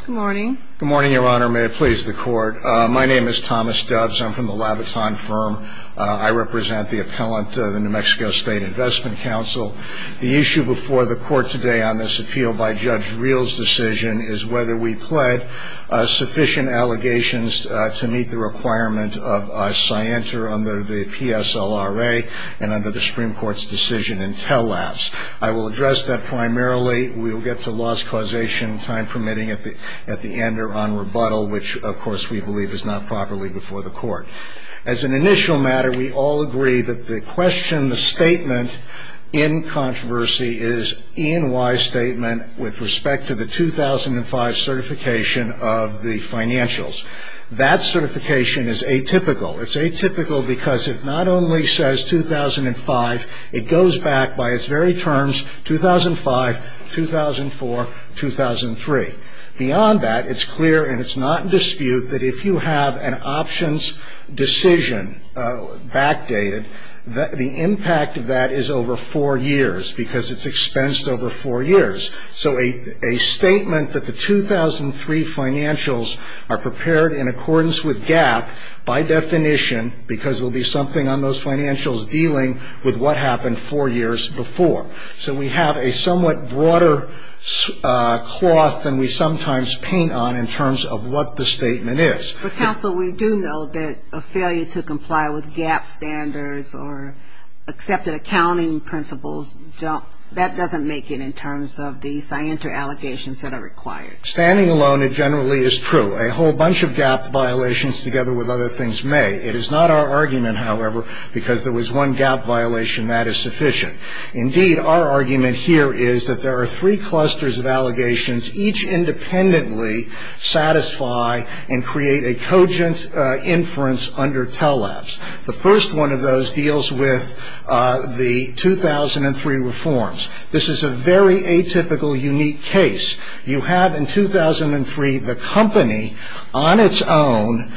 Good morning. Good morning, Your Honor. May it please the Court. My name is Thomas Doves. I'm from the Labaton Firm. I represent the appellant to the New Mexico State Investment Council. The issue before the Court today on this appeal by Judge Reel's decision is whether we pled sufficient allegations to meet the requirement of a scienter under the PSLRA and under the Supreme Court's decision in Tell Labs. I will address that primarily. We will get to loss causation and time permitting at the end or on rebuttal, which, of course, we believe is not properly before the Court. As an initial matter, we all agree that the question, the statement in controversy is an E&Y statement with respect to the 2005 certification of the financials. That certification is atypical. It's atypical because it not only says 2005, it goes back by its very terms, 2005, 2004, 2003. Beyond that, it's clear and it's not in dispute that if you have an options decision backdated, the impact of that is over four years because it's expensed over four years. So a statement that the 2003 financials are prepared in accordance with GAAP by definition because there will be something on those financials dealing with what happened four years before. So we have a somewhat broader cloth than we sometimes paint on in terms of what the statement is. But, counsel, we do know that a failure to comply with GAAP standards or accepted accounting principles, that doesn't make it in terms of the scienter allegations that are required. Standing alone, it generally is true. A whole bunch of GAAP violations together with other things may. It is not our argument, however, because there was one GAAP violation that is sufficient. Indeed, our argument here is that there are three clusters of allegations, each independently satisfy and create a cogent inference under TELAPS. The first one of those deals with the 2003 reforms. This is a very atypical, unique case. You have in 2003 the company on its own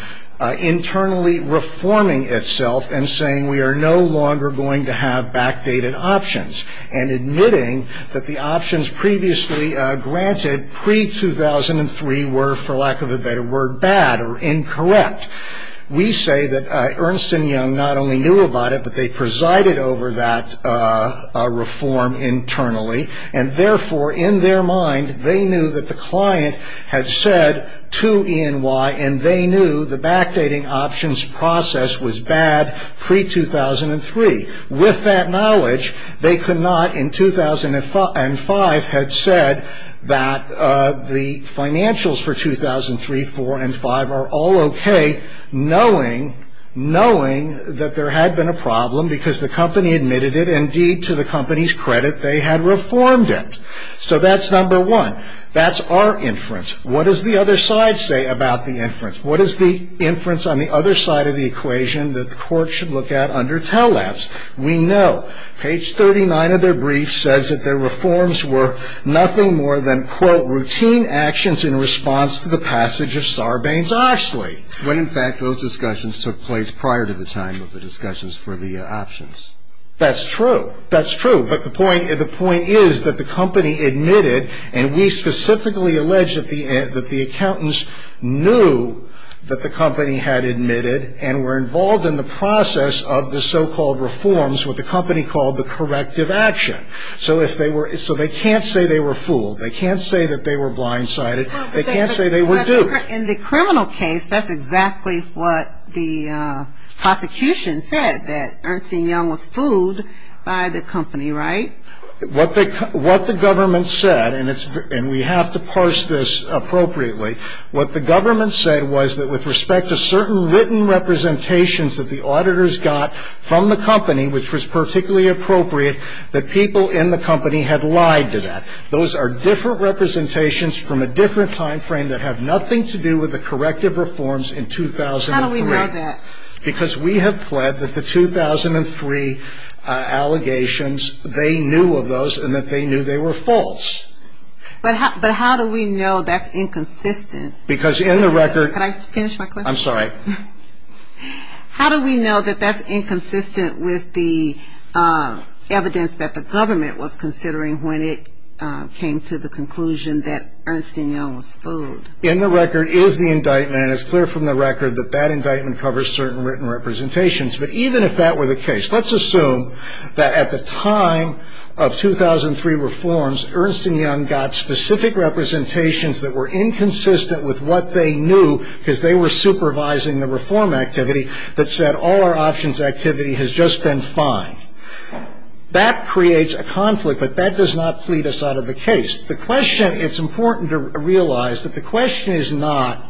internally reforming itself and saying we are no longer going to have backdated options and admitting that the options previously granted pre-2003 were, for lack of a better word, bad or incorrect. We say that Ernst & Young not only knew about it, but they presided over that reform internally. And, therefore, in their mind, they knew that the client had said to E&Y and they knew the backdating options process was bad pre-2003. With that knowledge, they could not, in 2005, had said that the financials for 2003, 4, and 5 are all okay, knowing that there had been a problem because the company admitted it and, indeed, to the company's credit, they had reformed it. So that's number one. That's our inference. What does the other side say about the inference? What is the inference on the other side of the equation that the court should look at under TELAPS? We know. Page 39 of their brief says that their reforms were nothing more than, quote, routine actions in response to the passage of Sarbanes-Oxley. When, in fact, those discussions took place prior to the time of the discussions for the options. That's true. That's true. But the point is that the company admitted, and we specifically allege that the accountants knew that the company had admitted and were involved in the process of the so-called reforms, what the company called the corrective action. So they can't say they were fooled. They can't say that they were blindsided. They can't say they were duped. In the criminal case, that's exactly what the prosecution said, that Ernst & Young was fooled by the company, right? What the government said, and we have to parse this appropriately, what the government said was that with respect to certain written representations that the auditors got from the company, which was particularly appropriate, that people in the company had lied to that. Those are different representations from a different time frame that have nothing to do with the corrective reforms in 2003. How do we know that? Because we have pled that the 2003 allegations, they knew of those and that they knew they were false. But how do we know that's inconsistent? Because in the record – Could I finish my question? I'm sorry. How do we know that that's inconsistent with the evidence that the government was considering when it came to the conclusion that Ernst & Young was fooled? In the record is the indictment, and it's clear from the record that that indictment covers certain written representations. But even if that were the case, let's assume that at the time of 2003 reforms, Ernst & Young got specific representations that were inconsistent with what they knew, because they were supervising the reform activity, that said all our options activity has just been fine. That creates a conflict, but that does not plead us out of the case. It's important to realize that the question is not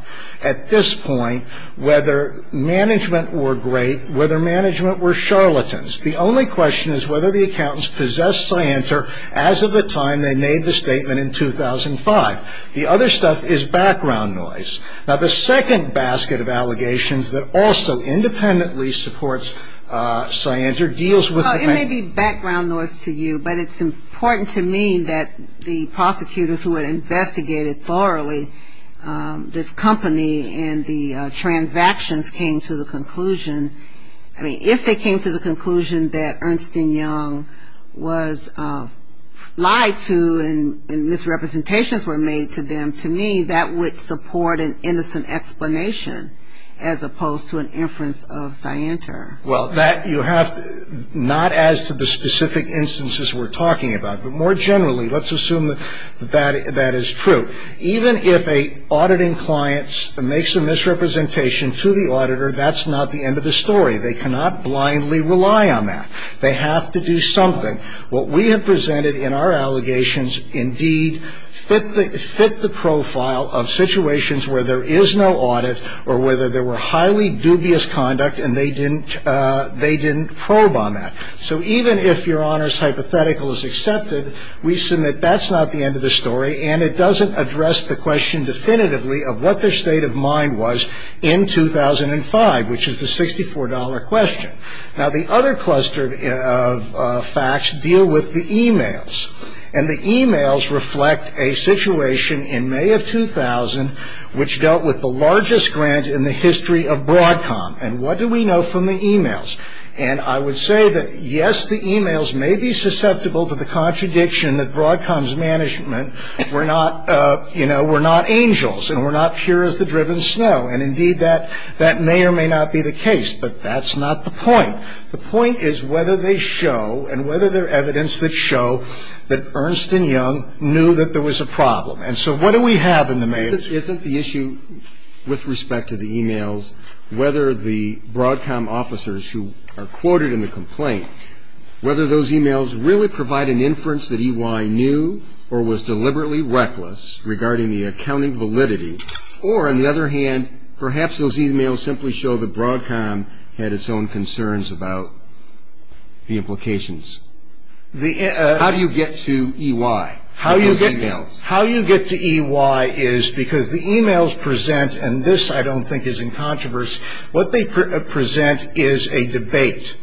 at this point whether management were great, whether management were charlatans. The only question is whether the accountants possessed scienter as of the time they made the statement in 2005. The other stuff is background noise. Now, the second basket of allegations that also independently supports scienter deals with – but it's important to me that the prosecutors who had investigated thoroughly this company and the transactions came to the conclusion – I mean, if they came to the conclusion that Ernst & Young was lied to and misrepresentations were made to them, to me that would support an innocent explanation as opposed to an inference of scienter. Well, that you have – not as to the specific instances we're talking about, but more generally let's assume that that is true. Even if an auditing client makes a misrepresentation to the auditor, that's not the end of the story. They cannot blindly rely on that. They have to do something. What we have presented in our allegations indeed fit the profile of situations where there is no audit or whether there were highly dubious conduct and they didn't probe on that. So even if Your Honor's hypothetical is accepted, we assume that that's not the end of the story and it doesn't address the question definitively of what their state of mind was in 2005, which is the $64 question. Now, the other cluster of facts deal with the e-mails. And the e-mails reflect a situation in May of 2000 which dealt with the largest grant in the history of Broadcom. And what do we know from the e-mails? And I would say that, yes, the e-mails may be susceptible to the contradiction that Broadcom's management were not angels and were not pure as the driven snow. And indeed that may or may not be the case, but that's not the point. The point is whether they show and whether they're evidence that show that Ernst & Young knew that there was a problem. And so what do we have in the mail? Isn't the issue with respect to the e-mails whether the Broadcom officers who are quoted in the complaint, whether those e-mails really provide an inference that EY knew or was deliberately reckless regarding the accounting validity, Or, on the other hand, perhaps those e-mails simply show that Broadcom had its own concerns about the implications. How do you get to EY in those e-mails? How you get to EY is because the e-mails present, and this I don't think is in controversy, what they present is a debate.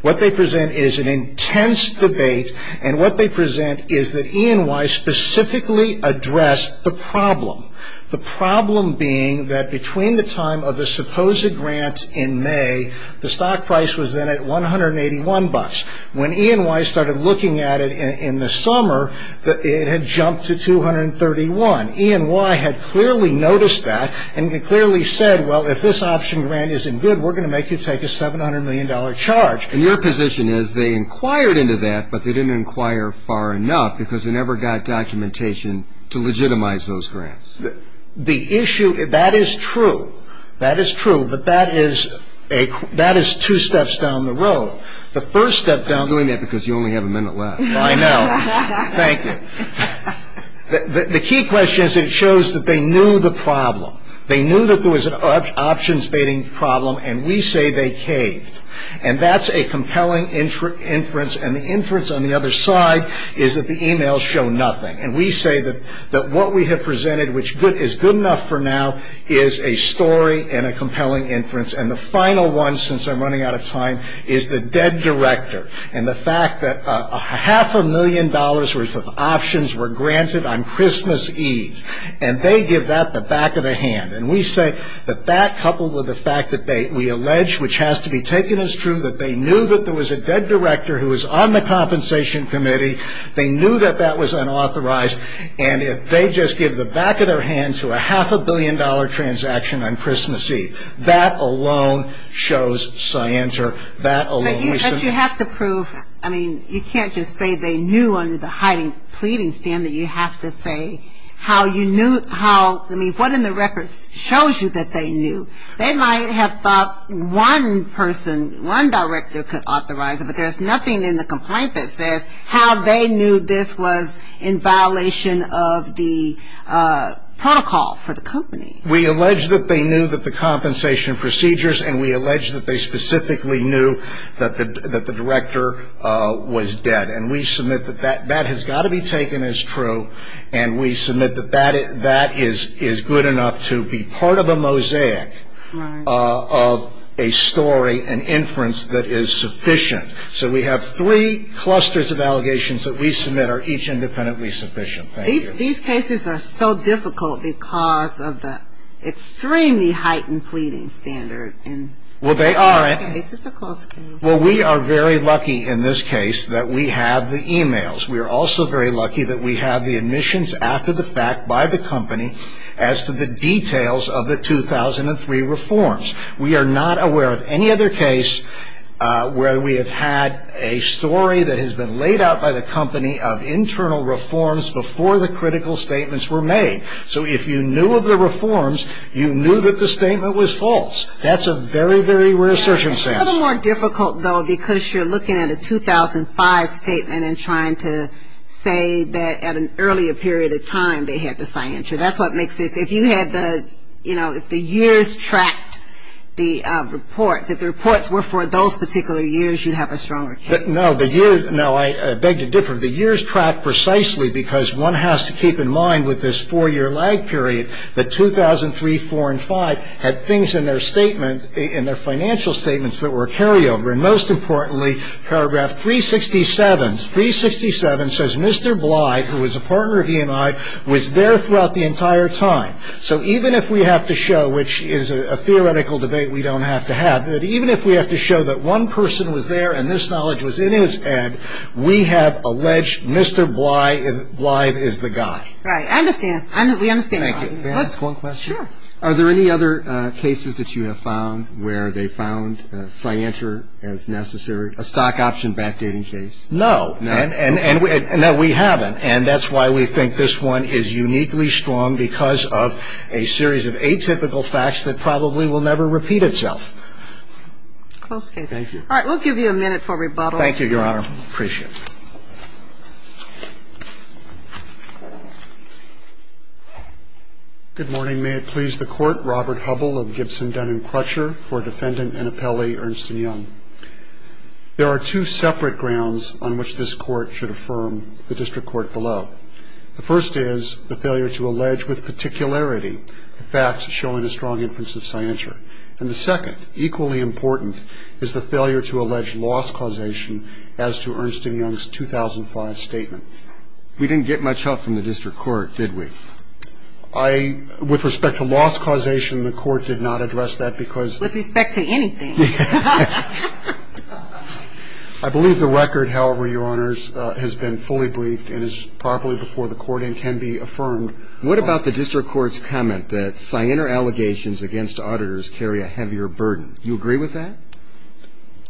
What they present is an intense debate. And what they present is that E&Y specifically addressed the problem. The problem being that between the time of the supposed grant in May, the stock price was then at $181. When E&Y started looking at it in the summer, it had jumped to $231. E&Y had clearly noticed that and clearly said, well, if this option grant isn't good, we're going to make you take a $700 million charge. And your position is they inquired into that, but they didn't inquire far enough because they never got documentation to legitimize those grants. The issue, that is true. That is true, but that is two steps down the road. The first step down the road. You're doing that because you only have a minute left. I know. Thank you. The key question is that it shows that they knew the problem. They knew that there was an options-baiting problem, and we say they caved. And that's a compelling inference, and the inference on the other side is that the emails show nothing. And we say that what we have presented, which is good enough for now, is a story and a compelling inference. And the final one, since I'm running out of time, is the dead director and the fact that half a million dollars worth of options were granted on Christmas Eve, and they give that the back of the hand. And we say that that, coupled with the fact that we allege, which has to be taken as true, that they knew that there was a dead director who was on the compensation committee, they knew that that was unauthorized, and if they just give the back of their hand to a half-a-billion-dollar transaction on Christmas Eve, that alone shows scienter. That alone. But you have to prove. I mean, you can't just say they knew under the hiding-pleading standard. You have to say how you knew, how, I mean, what in the records shows you that they knew. They might have thought one person, one director could authorize it, but there's nothing in the complaint that says how they knew this was in violation of the protocol for the company. We allege that they knew that the compensation procedures, and we allege that they specifically knew that the director was dead. And we submit that that has got to be taken as true, and we submit that that is good enough to be part of a mosaic of a story, an inference that is sufficient. So we have three clusters of allegations that we submit are each independently sufficient. Thank you. These cases are so difficult because of the extremely heightened pleading standard. Well, they aren't. It's a close case. Well, we are very lucky in this case that we have the e-mails. We are also very lucky that we have the admissions after the fact by the company as to the details of the 2003 reforms. We are not aware of any other case where we have had a story that has been laid out by the company of internal reforms before the critical statements were made. So if you knew of the reforms, you knew that the statement was false. That's a very, very rare circumstance. It's a little more difficult, though, because you're looking at a 2005 statement and trying to say that at an earlier period of time they had to sign into it. That's what makes it. If you had the, you know, if the years tracked the reports, if the reports were for those particular years, you'd have a stronger case. No, the years, no, I beg to differ. The years tracked precisely because one has to keep in mind with this four-year lag period that 2003, had things in their statement, in their financial statements that were carryover. And most importantly, paragraph 367, 367 says Mr. Blythe, who was a partner of E&I, was there throughout the entire time. So even if we have to show, which is a theoretical debate we don't have to have, that even if we have to show that one person was there and this knowledge was in his head, we have alleged Mr. Blythe is the guy. Right. I understand. We understand. Thank you. May I ask one question? Sure. Are there any other cases that you have found where they found Scienter as necessary, a stock option backdating case? No. No? No, we haven't. And that's why we think this one is uniquely strong because of a series of atypical facts that probably will never repeat itself. Close case. Thank you. All right. We'll give you a minute for rebuttal. Thank you, Your Honor. Appreciate it. Good morning. May it please the Court, Robert Hubbell of Gibson, Dunn & Crutcher, for Defendant and Appellee Ernst & Young. There are two separate grounds on which this Court should affirm the District Court below. The first is the failure to allege with particularity the facts showing a strong inference of Scienter. And the second, equally important, is the failure to allege loss causation as to Ernst & Young's 2005 statement. We didn't get much help from the District Court, did we? With respect to loss causation, the Court did not address that because the ---- With respect to anything. I believe the record, however, Your Honors, has been fully briefed and is properly before the Court and can be affirmed. What about the District Court's comment that Scienter allegations against auditors carry a heavier burden? Do you agree with that?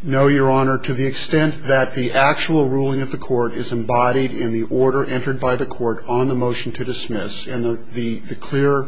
No, Your Honor. To the extent that the actual ruling of the Court is embodied in the order entered by the Court on the motion to dismiss, and the clear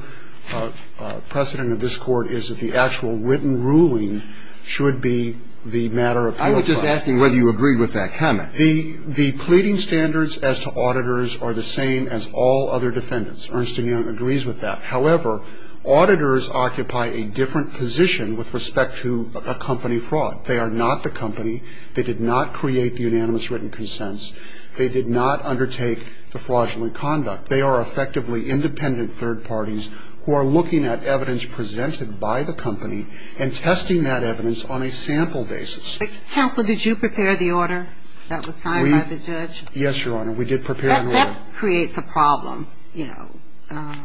precedent of this Court is that the actual written ruling should be the matter of ---- I was just asking whether you agreed with that comment. The pleading standards as to auditors are the same as all other defendants. Ernst & Young agrees with that. However, auditors occupy a different position with respect to a company fraud. They are not the company. They did not create the unanimous written consents. They did not undertake the fraudulent conduct. They are effectively independent third parties who are looking at evidence presented by the company and testing that evidence on a sample basis. Counsel, did you prepare the order that was signed by the judge? Yes, Your Honor. We did prepare an order. That creates a problem, you know,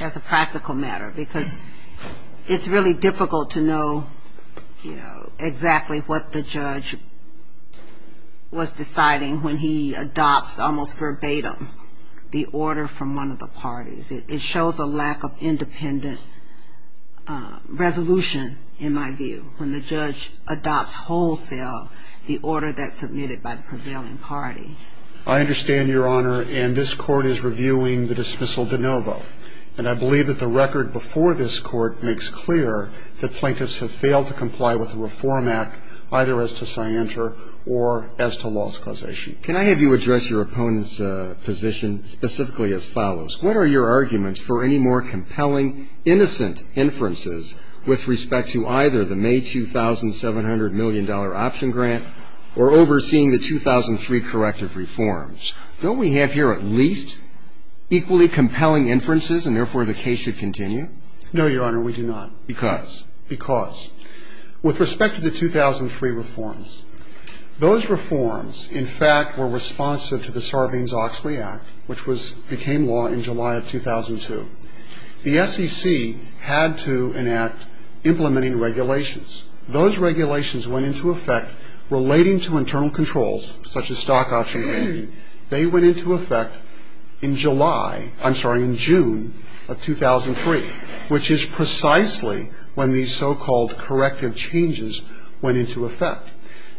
as a practical matter because it's really difficult to know, you know, exactly what the judge was deciding when he adopts almost verbatim the order from one of the parties. It shows a lack of independent resolution, in my view, when the judge adopts wholesale the order that's submitted by the prevailing parties. I understand, Your Honor, and this Court is reviewing the dismissal de novo. And I believe that the record before this Court makes clear that plaintiffs have failed to comply with the Reform Act either as to scienter or as to loss causation. Can I have you address your opponent's position specifically as follows? What are your arguments for any more compelling, innocent inferences with respect to either the May $2,700 million option grant or overseeing the 2003 corrective reforms? Don't we have here at least equally compelling inferences and, therefore, the case should continue? No, Your Honor, we do not. Because? Because. With respect to the 2003 reforms, those reforms, in fact, were responsive to the Sarbanes-Oxley Act, which became law in July of 2002. The SEC had to enact implementing regulations. Those regulations went into effect relating to internal controls, such as stock option lending. They went into effect in July, I'm sorry, in June of 2003, which is precisely when these so-called corrective changes went into effect.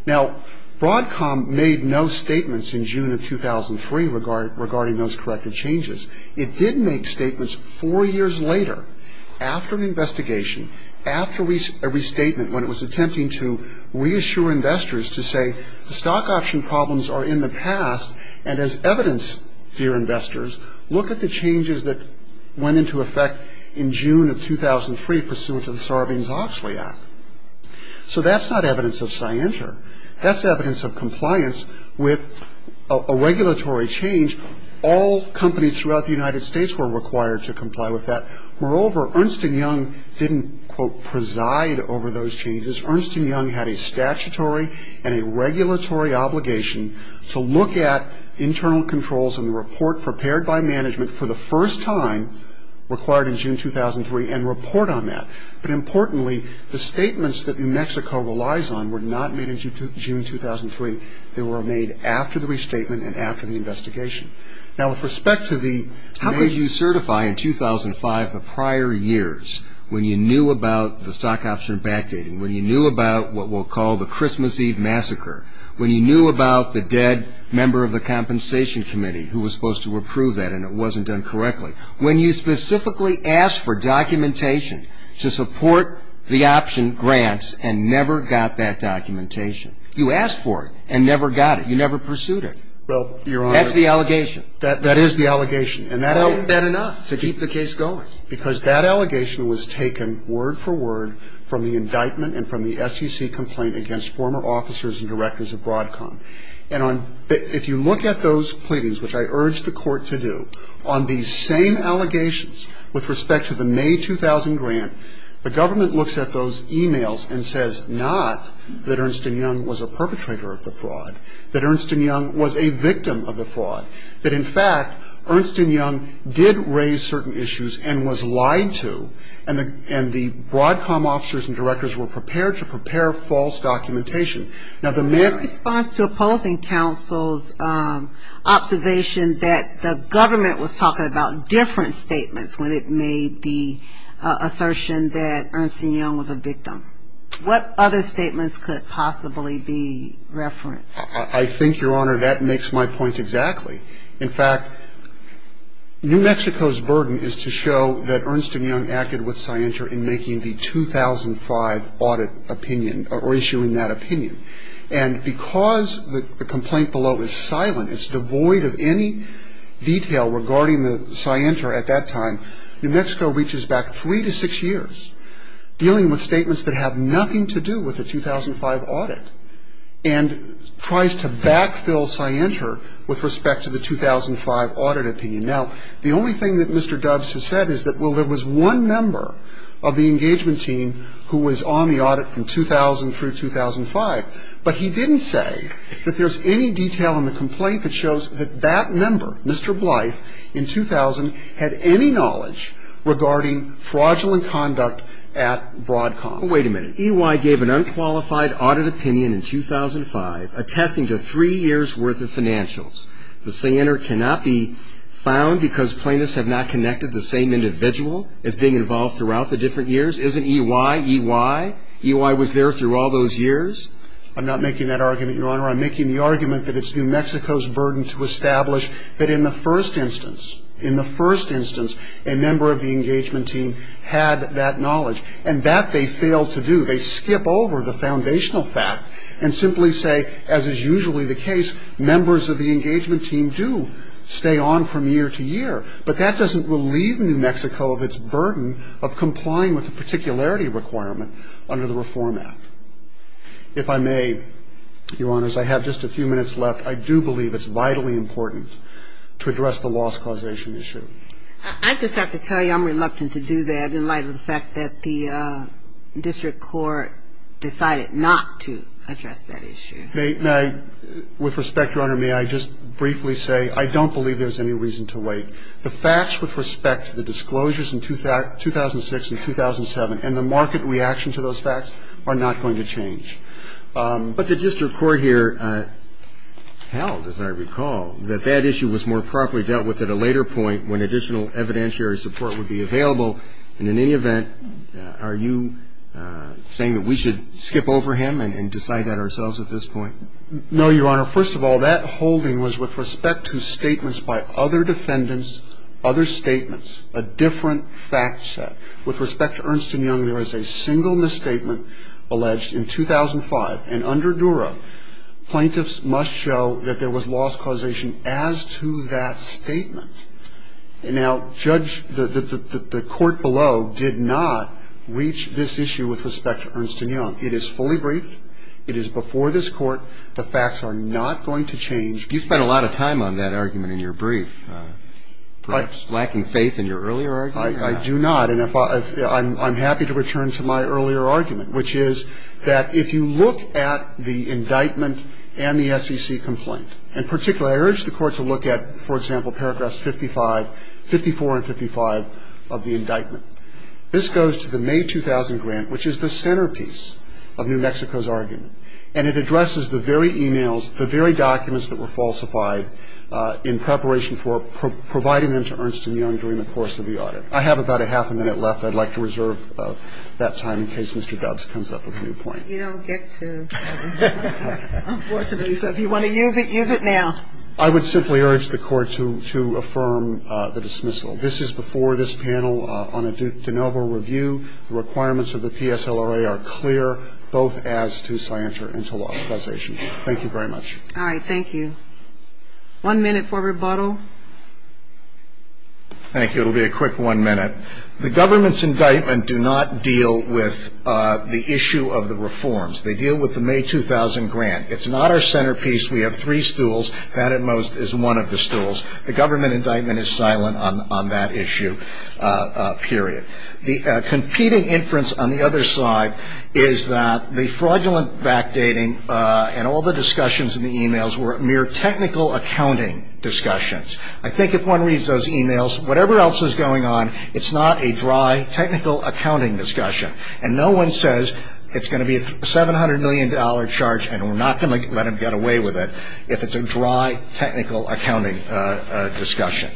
Now, Broadcom made no statements in June of 2003 regarding those corrective changes. It did make statements four years later after an investigation, after a restatement, when it was attempting to reassure investors to say the stock option problems are in the past and as evidence, dear investors, look at the changes that went into effect in June of 2003 pursuant to the Sarbanes-Oxley Act. So that's not evidence of scienter. That's evidence of compliance with a regulatory change. All companies throughout the United States were required to comply with that. Moreover, Ernst & Young didn't, quote, preside over those changes. Ernst & Young had a statutory and a regulatory obligation to look at internal controls and report prepared by management for the first time required in June 2003 and report on that. But importantly, the statements that New Mexico relies on were not made in June 2003. They were made after the restatement and after the investigation. Now, with respect to the major ---- How could you certify in 2005, the prior years, when you knew about the stock option backdating, when you knew about what we'll call the Christmas Eve massacre, when you knew about the dead member of the compensation committee who was supposed to approve that and it wasn't done correctly, when you specifically asked for documentation to support the option grants and never got that documentation? You asked for it and never got it. You never pursued it. Well, Your Honor ---- That's the allegation. That is the allegation. But isn't that enough to keep the case going? Because that allegation was taken word for word from the indictment and from the SEC complaint against former officers and directors of Broadcom. And if you look at those pleadings, which I urge the Court to do, on these same allegations with respect to the May 2000 grant, the government looks at those e-mails and says not that Ernst & Young was a perpetrator of the fraud, that Ernst & Young was a victim of the fraud, that in fact Ernst & Young did raise certain issues and was lied to and the Broadcom officers and directors were prepared to prepare false documentation. Now, the May ---- In response to opposing counsel's observation that the government was talking about different statements when it made the assertion that Ernst & Young was a victim, what other statements could possibly be referenced? I think, Your Honor, that makes my point exactly. In fact, New Mexico's burden is to show that Ernst & Young acted with Scientia in making the 2005 audit opinion or issuing that opinion. And because the complaint below is silent, it's devoid of any detail regarding the Scientia at that time, New Mexico reaches back three to six years dealing with statements that have nothing to do with the 2005 audit and tries to backfill Scientia with respect to the 2005 audit opinion. Now, the only thing that Mr. Doves has said is that, well, there was one member of the engagement team who was on the audit from 2000 through 2005, but he didn't say that there's any detail in the complaint that shows that that member, Mr. Blythe, in 2000 had any knowledge regarding fraudulent conduct at Broadcom. Wait a minute. EY gave an unqualified audit opinion in 2005 attesting to three years' worth of financials. The cyanide cannot be found because plaintiffs have not connected the same individual as being involved throughout the different years? Isn't EY EY? EY was there through all those years? I'm not making that argument, Your Honor. I'm making the argument that it's New Mexico's burden to establish that in the first instance, in the first instance, a member of the engagement team had that knowledge. And that they failed to do. They skip over the foundational fact and simply say, as is usually the case, members of the engagement team do stay on from year to year. But that doesn't relieve New Mexico of its burden of complying with the particularity requirement under the Reform Act. If I may, Your Honors, I have just a few minutes left. I do believe it's vitally important to address the loss causation issue. I just have to tell you I'm reluctant to do that in light of the fact that the district court decided not to address that issue. With respect, Your Honor, may I just briefly say I don't believe there's any reason to wait. The facts with respect to the disclosures in 2006 and 2007 and the market reaction to those facts are not going to change. But the district court here held, as I recall, that that issue was more properly dealt with at a later point when additional evidentiary support would be available. And in any event, are you saying that we should skip over him and decide that ourselves at this point? No, Your Honor. First of all, that holding was with respect to statements by other defendants, other statements, a different fact set. With respect to Ernst & Young, there is a single misstatement alleged in 2005. And under Duro, plaintiffs must show that there was loss causation as to that statement. Now, Judge, the court below did not reach this issue with respect to Ernst & Young. It is fully briefed. It is before this court. The facts are not going to change. You spent a lot of time on that argument in your brief, perhaps lacking faith in your earlier argument. I do not. And I'm happy to return to my earlier argument, which is that if you look at the indictment and the SEC complaint, in particular, I urge the Court to look at, for example, paragraphs 55, 54 and 55 of the indictment. This goes to the May 2000 grant, which is the centerpiece of New Mexico's argument. And it addresses the very e-mails, the very documents that were falsified in preparation for providing them to Ernst & Young during the course of the audit. I have about a half a minute left. I'd like to reserve that time in case Mr. Dobbs comes up with a new point. You don't get to. Unfortunately. So if you want to use it, use it now. I would simply urge the Court to affirm the dismissal. This is before this panel on a de novo review. The requirements of the PSLRA are clear, both as to Scientia and to law specialization. Thank you very much. All right. Thank you. One minute for rebuttal. Thank you. It will be a quick one minute. The government's indictment do not deal with the issue of the reforms. They deal with the May 2000 grant. It's not our centerpiece. We have three stools. That, at most, is one of the stools. The government indictment is silent on that issue, period. The competing inference on the other side is that the fraudulent backdating and all the discussions in the e-mails were mere technical accounting discussions. I think if one reads those e-mails, whatever else is going on, it's not a dry technical accounting discussion. And no one says it's going to be a $700 million charge and we're not going to let them get away with it if it's a dry technical accounting discussion.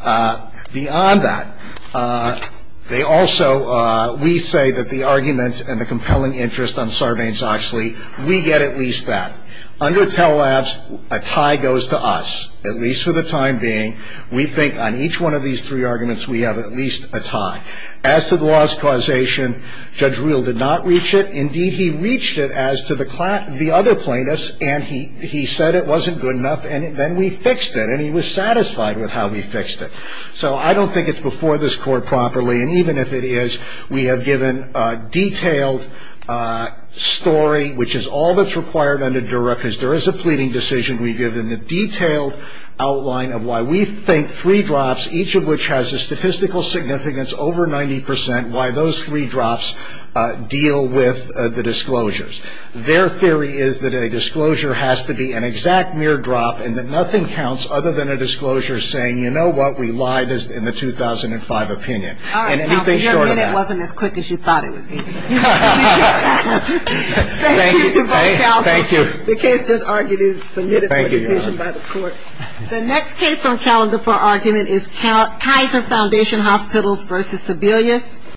Beyond that, they also, we say that the arguments and the compelling interest on Sarbanes-Oxley, we get at least that. Under Tell Labs, a tie goes to us, at least for the time being. We think on each one of these three arguments we have at least a tie. As to the loss causation, Judge Reel did not reach it. Indeed, he reached it as to the other plaintiffs, and he said it wasn't good enough, and then we fixed it, and he was satisfied with how we fixed it. So I don't think it's before this Court properly, and even if it is, we have given a detailed story, which is all that's required under Dura, because there is a pleading decision. We've given a detailed outline of why we think three drops, each of which has a statistical significance over 90 percent, why those three drops deal with the disclosures. Their theory is that a disclosure has to be an exact mere drop and that nothing counts other than a disclosure saying, you know what, we lied in the 2005 opinion. And anything short of that. All right, Counselor, your minute wasn't as quick as you thought it would be. Thank you to both Counselors. Thank you. The case just argued is submitted for decision by the Court. The next case on calendar for argument is Kaiser Foundation Hospitals v. Sebelius.